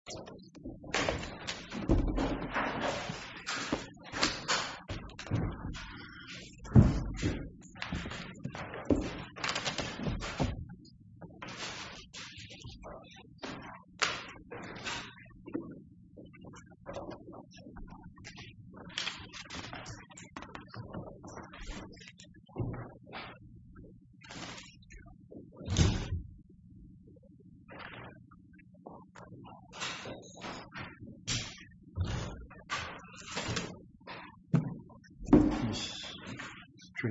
2. 3. 4. 5. 6. 7. 8. 9. 10. 11. 12. 13. 14. 15. 16. 17. 18. 23. 24. 25. 26. 27. 28. 29. 30. 31. 33. 35. 36. 37. 38. 39. 40. 41. 42. 43. 45. 46. 47. 48. 49. 50. 51. 52. 53.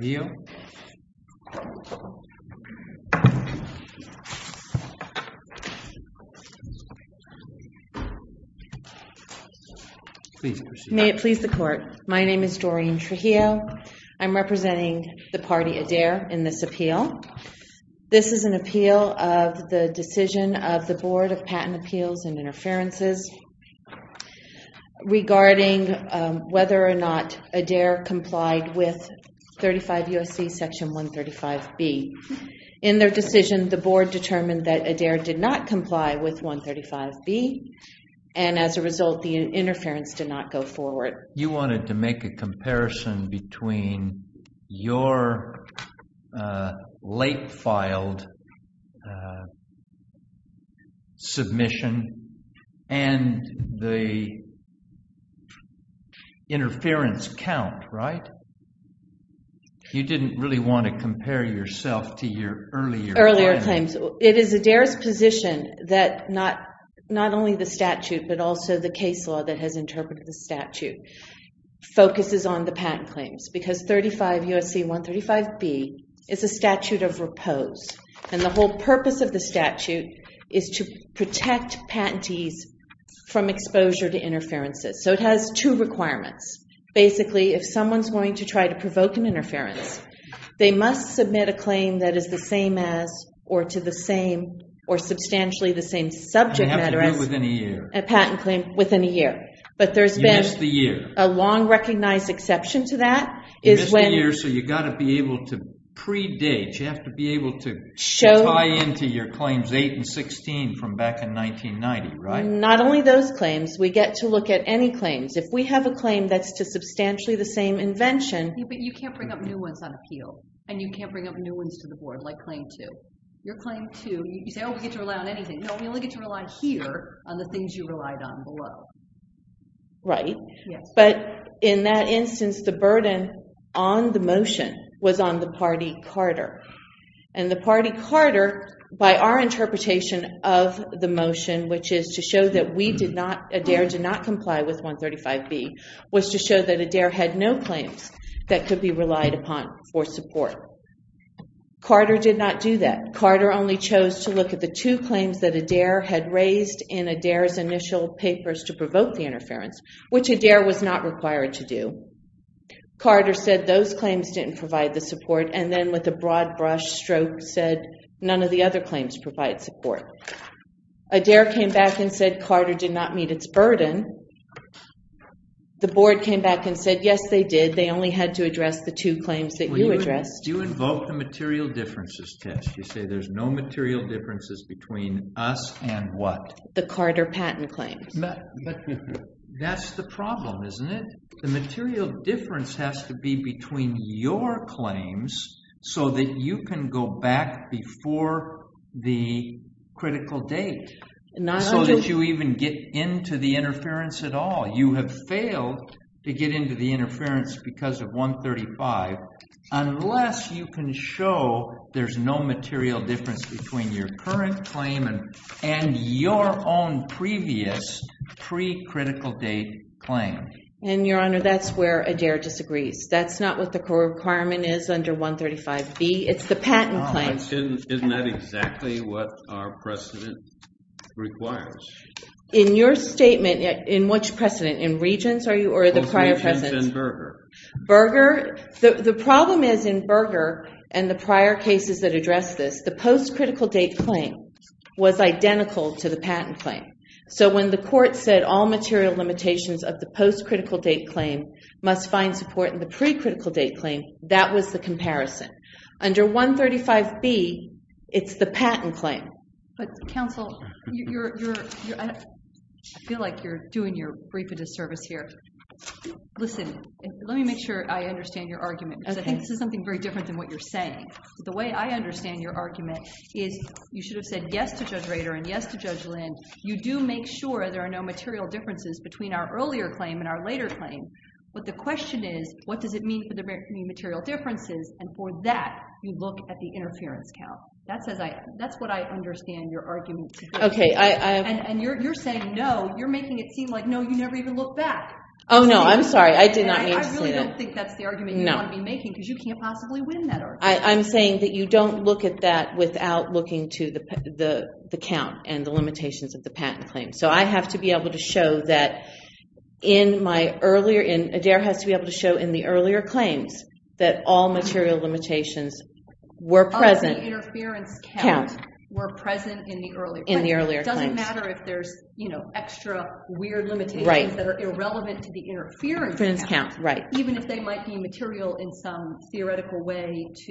54. 55. 56. 57. 58. 59. 66. 67. 68. 69. 70. 71. 72. 73. 74. 80. 81. 82. 83. 84. 85. 86. 87. 88. 89. 90. 91. 92. 93. 94. 95. 96. 97. 98. 99. 100. 1. 2. 3. 4. 5. 6. 7. 8. 9. 10. 11. 12. 13. 14. 15. 22. 23. 24. 25. 26. 27. 28. 29. 30. 31. 32. 33. 34. 35. 36.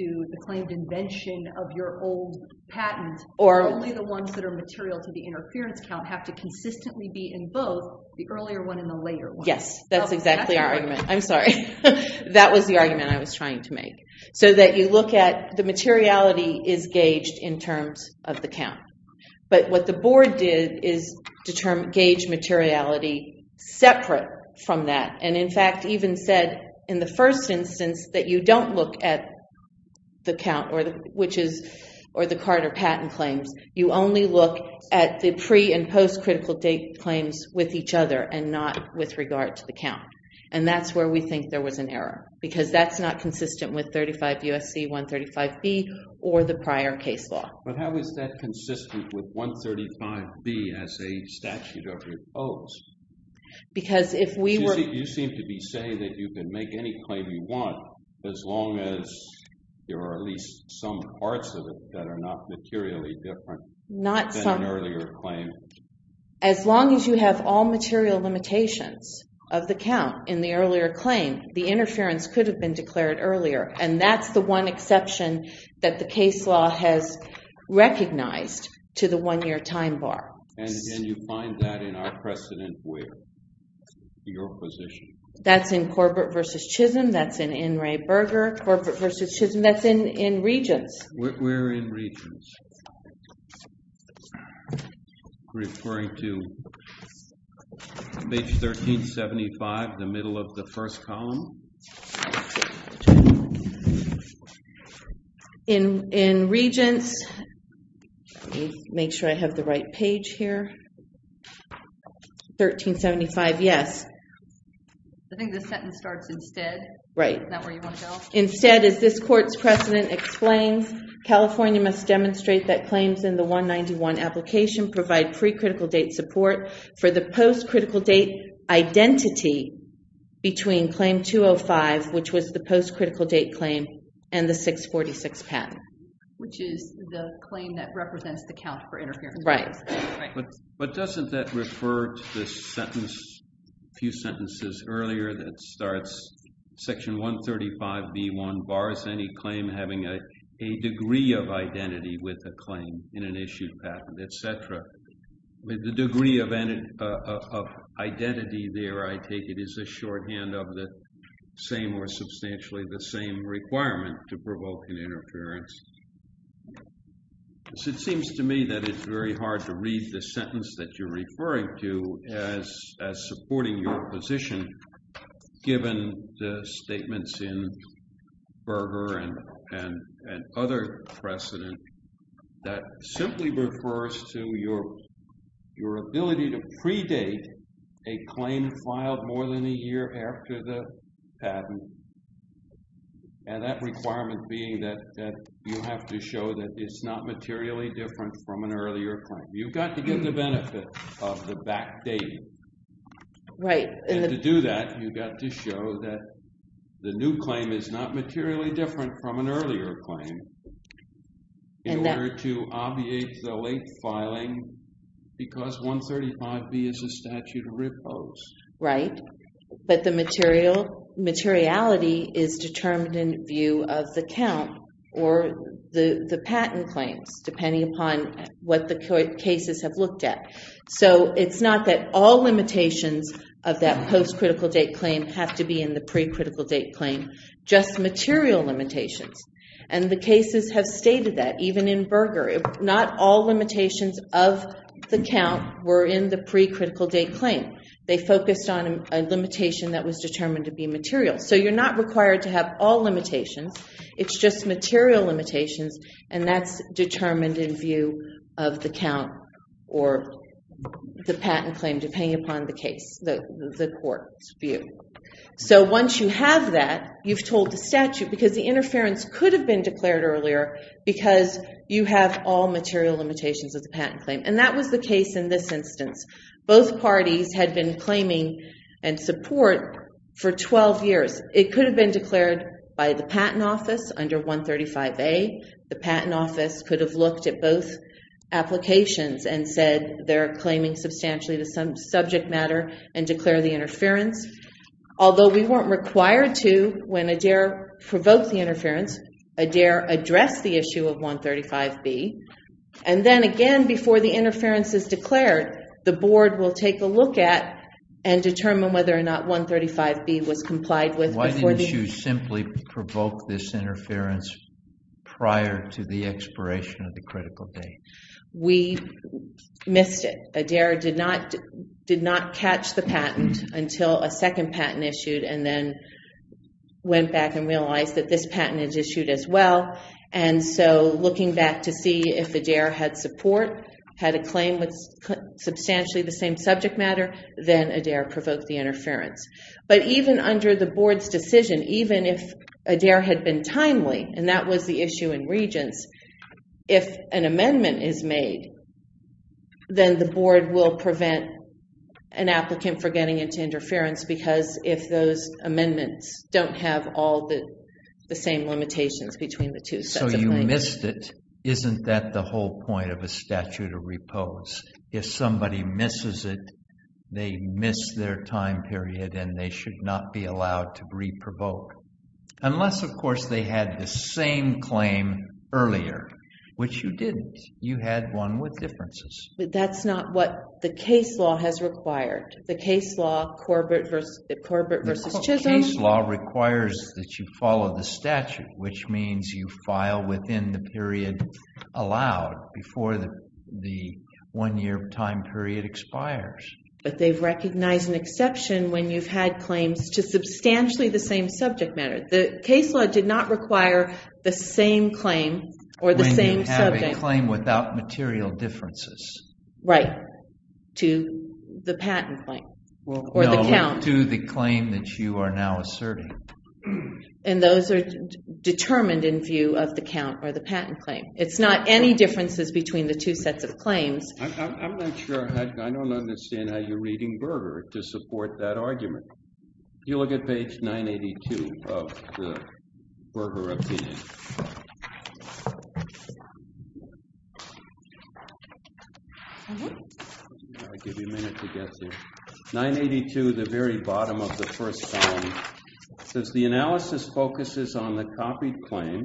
37. 38. 39. 40. 41. 42. 45. 46. 47. 48. 49. 50. 51. 52. 53. 54. 55. 56. 57. 58. 59. 60. 61. 66. 67. 68. 69. 70. 71. 72. 73. 74. 75. 76. 77. 78. 79. 80. 81. 82. 83. 84. 85. 86. The materiality is gauged in terms of the count. But what the board did is gauge materiality separate from that. In fact, even said in the first instance that you don't look at the count or the Carter patent claims. You only look at the pre- and post-critical date claims with each other and not with regard to the count. That's where we think there was an error. Because that's not consistent with 35 U.S.C. 135B or the prior case law. But how is that consistent with 135B as a statute of opposed? You seem to be saying that you can make any claim you want as long as there are at least some parts of it that are not materially different than an earlier claim. As long as you have all material limitations of the count in the earlier claim, the interference could have been declared earlier. That's the one exception that the case law has recognized to the one-year time bar. Can you find that in our precedent where? Your position? That's in Corbett v. Chisholm. That's in N. Ray Berger. Corbett v. Chisholm. That's in Regents. Where in Regents? Referring to page 1375, the middle of the first column. In Regents, let me make sure I have the right page here. 1375, yes. I think the sentence starts instead. Right. Is that where you want to go? Instead, as this court's precedent explains, California must demonstrate that claims in the 191 application provide pre-critical date support for the post-critical date identity between claim 205, which was the post-critical date claim, and the 646 patent. Which is the claim that represents the count for interference. Right. But doesn't that refer to the sentence, a few sentences earlier, that starts section 135B1, bars any claim having a degree of identity with a claim in an issued patent, etc. The degree of identity there, I take it, is a shorthand of the same or substantially the same requirement to provoke an interference. It seems to me that it's very hard to read the sentence that you're referring to as supporting your position given the statements in Berger and other precedent that simply refers to your ability to predate a claim filed more than a year after the patent, and that requirement being that you have to show that it's not materially different from an earlier claim. You've got to get the benefit of the backdating. Right. And to do that, you've got to show that the new claim is not materially different from an earlier claim in order to obviate the late filing because 135B is a statute of riposte. Right. But the materiality is determined in view of the count or the patent claims, depending upon what the cases have looked at. So it's not that all limitations of that post-critical date claim have to be in the pre-critical date claim, just material limitations. And the cases have stated that, even in Berger. Not all limitations of the count were in the pre-critical date claim. They focused on a limitation that was determined to be material. So you're not required to have all limitations. It's just material limitations, and that's determined in view of the count or the patent claim, depending upon the court's view. So once you have that, you've told the statute, because the interference could have been declared earlier because you have all material limitations of the patent claim. And that was the case in this instance. Both parties had been claiming and support for 12 years. It could have been declared by the patent office under 135A. The patent office could have looked at both applications and said they're claiming substantially the subject matter and declare the interference. Although we weren't required to, when Adair provoked the interference, Adair addressed the issue of 135B. And then again, before the interference is declared, the board will take a look at and determine whether or not 135B was complied with. Why didn't you simply provoke this interference prior to the expiration of the critical date? We missed it. Adair did not catch the patent until a second patent issued and then went back and realized that this patent is issued as well. So looking back to see if Adair had support, had a claim with substantially the same subject matter, then Adair provoked the interference. But even under the board's decision, even if and that was the issue in Regents, if an amendment is made then the board will prevent an applicant from getting into interference because if those amendments don't have all the same limitations between the two sets of claims. So you missed it. Isn't that the whole point of a statute of repose? If somebody misses it, they miss their time period and they should not be allowed to re-provoke. Unless, of course, they had the same claim earlier, which you didn't. You had one with differences. That's not what the case law has required. The case law, Corbett v. Chisholm. The case law requires that you follow the statute, which means you file within the period allowed before the one year time period expires. But they've recognized an exception when you've had claims to The case law did not require the same claim or the same subject. When you have a claim without material differences. Right. To the patent claim or the count. To the claim that you are now asserting. And those are determined in view of the count or the patent claim. It's not any differences between the two sets of claims. I'm not sure. I don't understand how you're reading Berger to support that argument. You look at page 982 of the Berger opinion. I'll give you a minute to get there. 982, the very bottom of the first column says the analysis focuses on the copied claim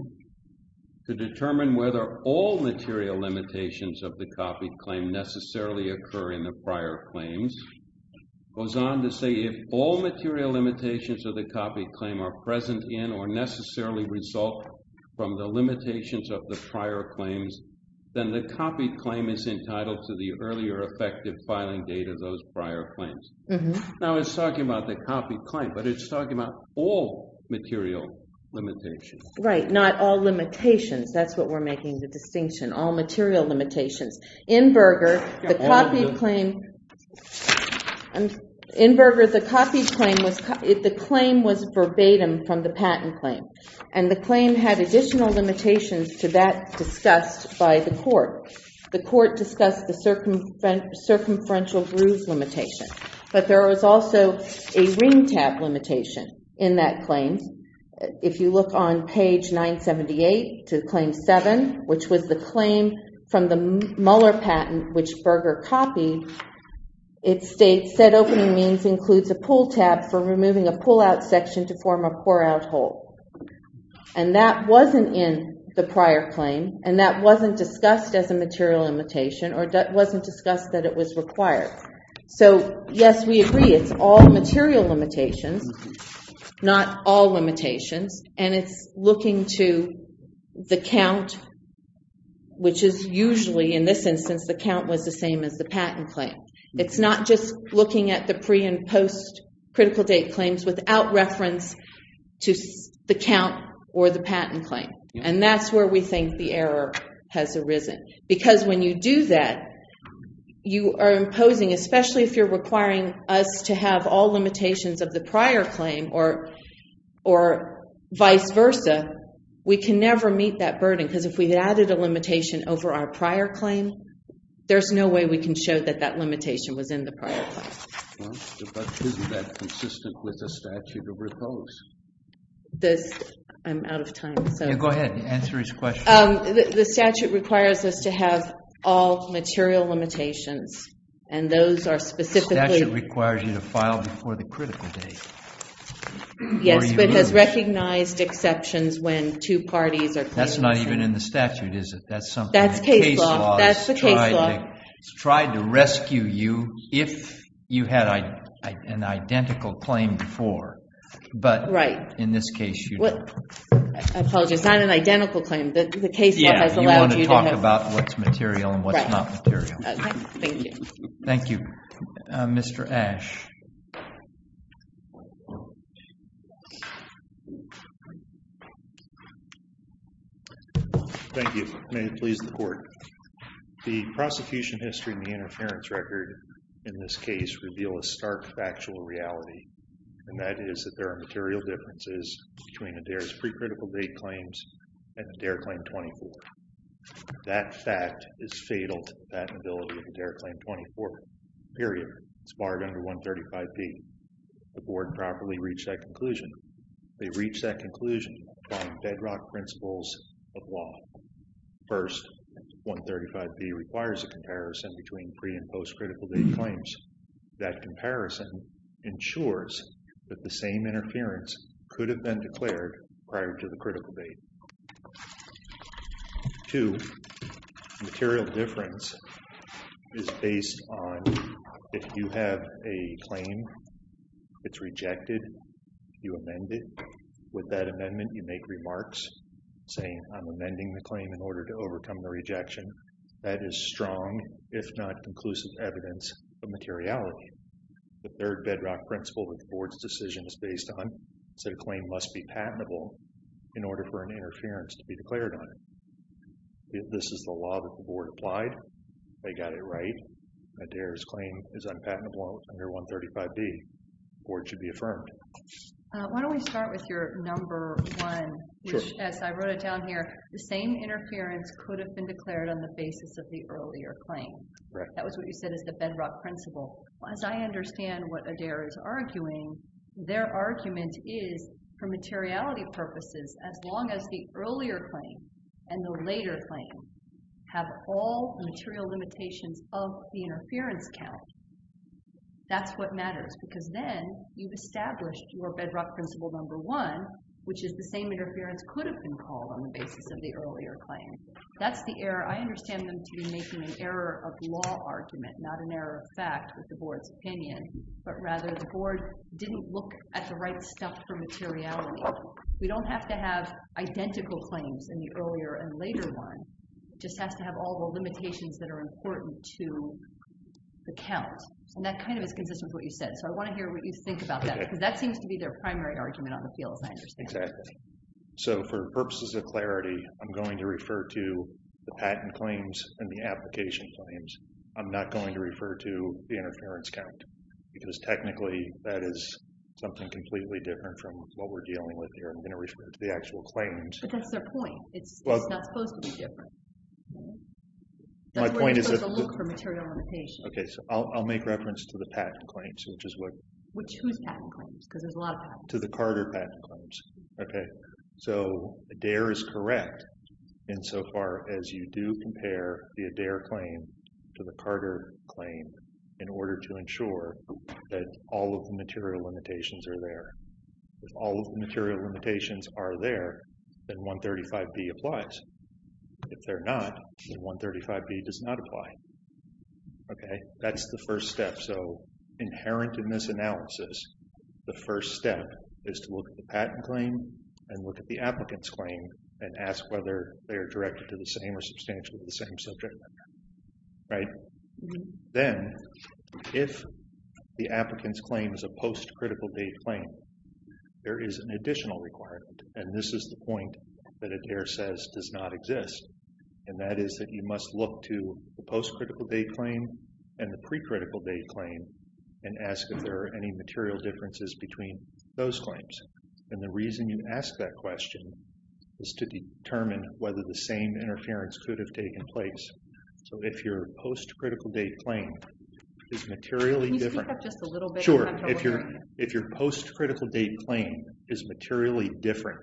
to determine whether all material limitations of the copied claim necessarily occur in the prior claims. Goes on to say if all material limitations of the copied claim are present in or necessarily result from the limitations of the prior claims then the copied claim is entitled to the earlier effective filing date of those prior claims. Now it's talking about the copied claim, but it's talking about all material limitations. Right. Not all limitations. That's what we're making the distinction. All material limitations. In Berger, the copied claim was verbatim from the patent claim. And the claim had additional limitations to that discussed by the court. The court discussed the circumferential groove limitation. But there was also a ring tab limitation in that claim. If you look on page 978 to claim 7, which was the claim from the Muller patent which Berger copied, it states said opening means includes a pull tab for removing a pull out section to form a pour out hole. And that wasn't in the prior claim. And that wasn't discussed as a material limitation or that wasn't discussed that it was required. So yes, we agree. It's all material limitations. Not all limitations. And it's looking to the count, which is usually, in this instance, the count was the same as the patent claim. It's not just looking at the pre and post critical date claims without reference to the count or the patent claim. And that's where we think the error has arisen. Because when you do that, you are imposing, especially if you're requiring us to have all limitations of the prior claim or vice versa, we can never meet that limitation over our prior claim. There's no way we can show that that limitation was in the prior claim. Isn't that consistent with the statute of repose? I'm out of time. Go ahead. Answer his question. The statute requires us to have all material limitations. The statute requires you to file before the critical date. Yes, but it has recognized exceptions when two parties are claiming something. That's not even in the statute, is it? That's case law. It's tried to rescue you if you had an identical claim before. In this case, you don't. I apologize. It's not an identical claim. You want to talk about what's material and what's not material. Thank you. Thank you. Mr. Ash. Thank you. May it please the court. The prosecution history and the interference record in this case reveal a stark factual reality, and that is that there are material differences between Adair's pre-critical date claims and Adair Claim 24. That fact is fatal to the patentability of Adair Claim 24, period. It's barred under 135B. The board properly reached that conclusion. They reached that conclusion by bedrock principles of law. First, 135B requires a comparison between pre- and post-critical date claims. That comparison ensures that the same interference could have been declared prior to the critical date. Two, material difference is based on if you have a claim that's rejected, you amend it. With that amendment, you make remarks saying, I'm amending the claim in order to overcome the rejection. That is strong, if not conclusive evidence of materiality. The third bedrock principle that the board's decision is based on is that a claim must be patentable in order for an interference to be declared on it. This is the law that the board applied. They got it right. Adair's claim is unpatentable under 135B. The board should be affirmed. Why don't we start with your number one, which, as I wrote it down here, the same interference could have been declared on the basis of the earlier claim. That was what you said is the bedrock principle. As I understand what Adair is arguing, their argument is, for materiality purposes, as long as the earlier claim and the later claim have all the material limitations of the interference count, that's what matters. Because then, you've established your bedrock principle number one, which is the same interference could have been called on the basis of the earlier claim. That's the error. I understand them to be making an error of law argument, not an error of fact with the board's opinion. But rather, the board didn't look at the right stuff for materiality. We don't have to have identical claims in the earlier and later one. It just has to have all the limitations that are important to the count. And that kind of is consistent with what you said. So I want to hear what you think about that. Because that seems to be their primary argument on the field, as I understand it. Exactly. So for purposes of clarity, I'm going to refer to the patent claims and the application claims. I'm not going to refer to the interference count. Because technically, that is something completely different from what we're dealing with here. I'm going to refer to the actual claims. But that's their point. It's not supposed to be different. My point is that I'll make reference to the patent claims. To the Carter patent claims. So Adair is correct insofar as you do compare the Adair claim to the Carter claim in order to ensure that all of the material limitations are there. If all of the material limitations are there, then 135B applies. If they're not, then 135B does not apply. That's the first step. So inherent in this analysis, the first step is to look at the patent claim and look at the applicant's claim and ask whether they are directed to the same or substantially the same subject matter. Then, if the applicant's claim is a post critical date claim, there is an additional requirement. And this is the point that Adair says does not exist. And that is that you must look to the post critical date claim and the pre critical date claim and ask if there are any material differences between those claims. And the reason you ask that question is to determine whether the same interference could have taken place. So if your post critical date claim is materially different. Sure. If your post critical date claim is materially different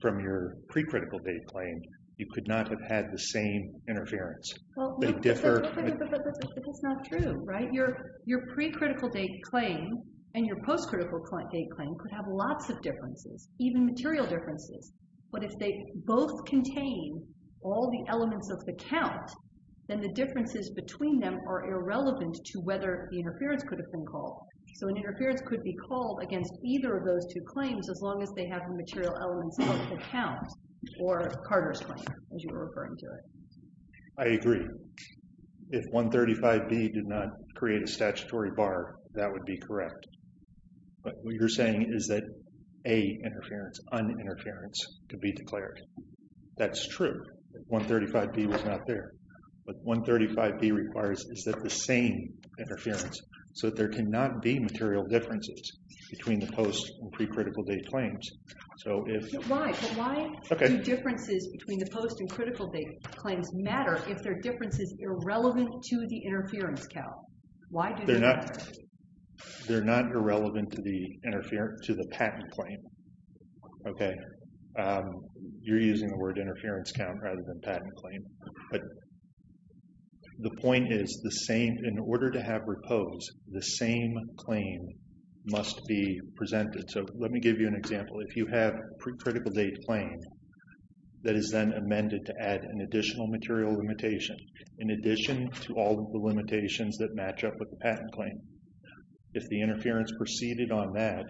from your pre critical date claim, you could not have had the same interference. But that's not true, right? Your pre critical date claim and your post critical date claim could have lots of differences. Even material differences. But if they both contain all the elements of the count, then the differences between them are irrelevant to whether the interference could have been called. So an interference between those two claims, as long as they have the material elements of the count or Carter's claim, as you were referring to it. I agree. If 135B did not create a statutory bar, that would be correct. But what you're saying is that a interference, uninterference, could be declared. That's true. 135B was not there. But 135B requires is that the same interference, so that there cannot be pre critical date claims. But why do differences between the post and critical date claims matter if their difference is irrelevant to the interference count? They're not irrelevant to the patent claim. You're using the word interference count rather than patent claim. But the point is in order to have repose, the same claim must be presented. So let me give you an example. If you have a pre critical date claim that is then amended to add an additional material limitation, in addition to all of the limitations that match up with the patent claim, if the interference proceeded on that,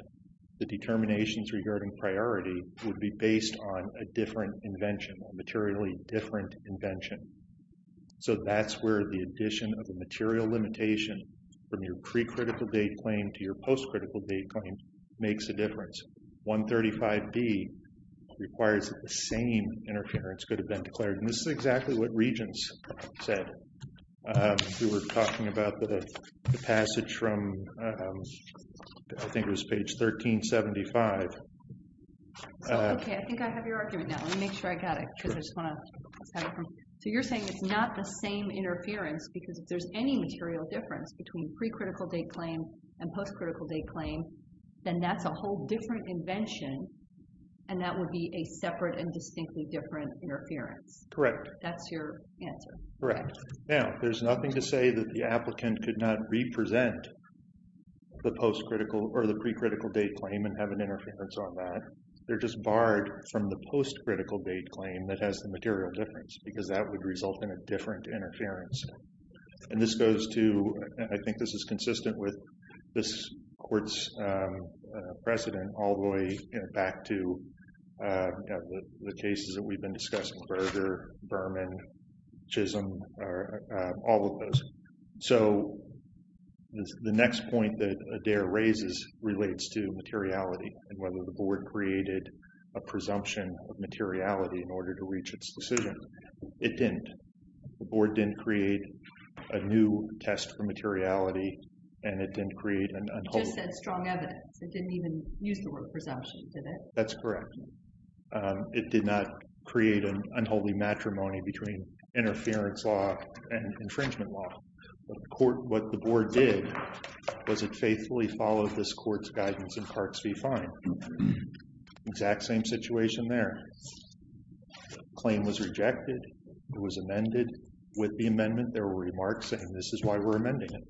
the determinations regarding priority would be based on a different invention, a materially different invention. So that's where the addition of a material limitation from your pre critical date claim to your post critical date claim makes a difference. 135B requires the same interference could have been declared. And this is exactly what Regents said who were talking about the passage from, I think it was page 1375. Okay, I think I have your argument now. Let me make sure I got it. So you're saying it's not the same interference because if there's any material difference between pre critical date claim and post critical date claim, then that's a whole different invention and that would be a separate and distinctly different interference. Correct. That's your answer. Correct. Now, there's nothing to say that the applicant could not represent the post critical or the pre critical date claim and have an interference on that. They're just barred from the post critical date claim that has the material difference because that would result in a different interference. And this goes to I think this is consistent with this court's precedent all the way back to the cases that we've been discussing, Berger, Berman, Chisholm, all of those. So the next point that Adair raises relates to materiality and whether the board created a presumption of materiality in order to the board didn't create a new test for materiality and it didn't create an unholy... It just said strong evidence. It didn't even use the word presumption, did it? That's correct. It did not create an unholy matrimony between interference law and infringement law. What the board did was it faithfully followed this court's guidance in Parks v. Fine. Exact same situation there. The claim was rejected. It was amended with the amendment. There were remarks saying this is why we're amending it.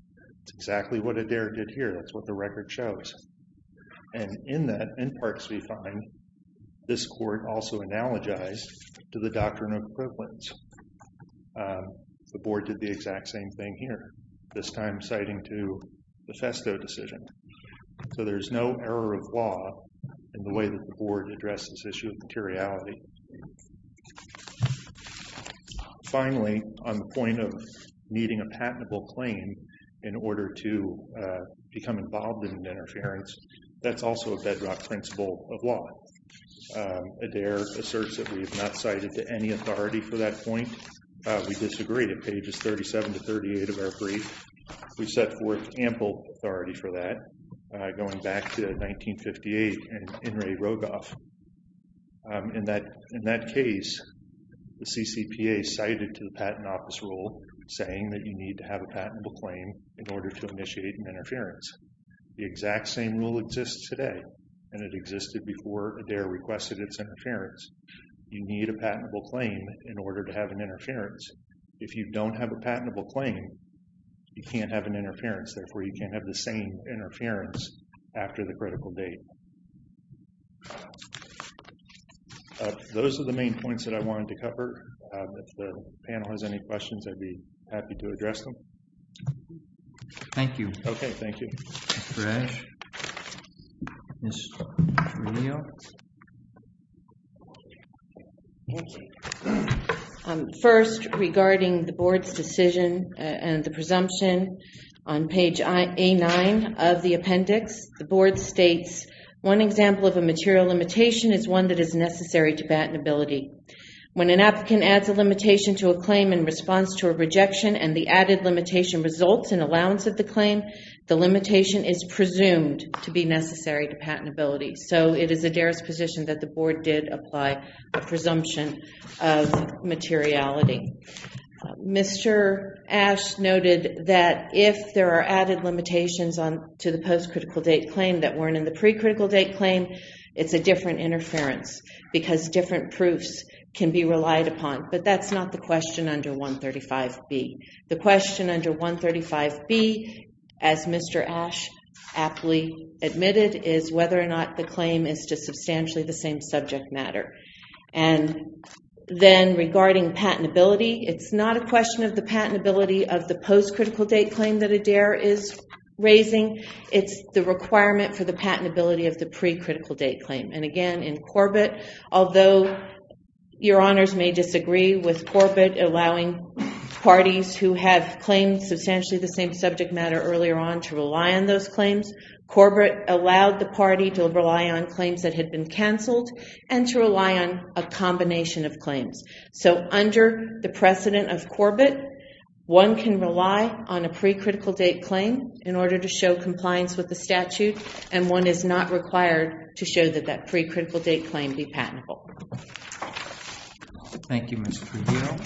It's exactly what Adair did here. That's what the record shows. And in that in Parks v. Fine, this court also analogized to the doctrine of equivalence. The board did the exact same thing here. This time citing to the Festo decision. So there's no error of law in the way that the board addressed this issue of materiality. Finally, on the point of needing a patentable claim in order to become involved in interference, that's also a bedrock principle of law. Adair asserts that we have not cited to any authority for that point. We disagree at pages 37 to 38 of our brief. We set forth ample authority for that. Going back to 1858 and In re Rogoff. In that case, the CCPA cited to the patent office rule saying that you need to have a patentable claim in order to initiate interference. The exact same rule exists today. And it existed before Adair requested its interference. You need a patentable claim in order to have an interference. If you don't have a patentable claim, you can't have an interference. Therefore, you can't have the same patentable date. Those are the main points that I wanted to cover. If the panel has any questions I'd be happy to address them. Thank you. Okay, thank you. First, regarding the board's decision and the presumption on page A9 of the appendix, the board states, one example of a material limitation is one that is necessary to patentability. When an applicant adds a limitation to a claim in response to a rejection and the added limitation results in allowance of the claim, the limitation is presumed to be necessary to patentability. So it is Adair's position that the board did apply a presumption of materiality. Mr. Ash noted that if there are added limitations to the post-critical date claim that weren't in the pre-critical date claim, it's a different interference because different proofs can be relied upon. But that's not the question under 135B. The question under 135B, as Mr. Ash aptly admitted, is whether or not the claim is to substantially the same subject matter. Regarding patentability, it's not a question of the patentability of the post-critical date claim that Adair is raising. It's the requirement for the patentability of the pre-critical date claim. And again, in Corbett, although your honors may disagree with Corbett allowing parties who have claimed substantially the same subject matter earlier on to rely on those claims, Corbett allowed the party to rely on claims that had been canceled and to rely on a combination of claims. So under the precedent of Corbett, one can rely on a pre-critical date claim in order to show compliance with the statute and one is not required to show that that pre-critical date claim be patentable. Thank you, Ms. Trujillo.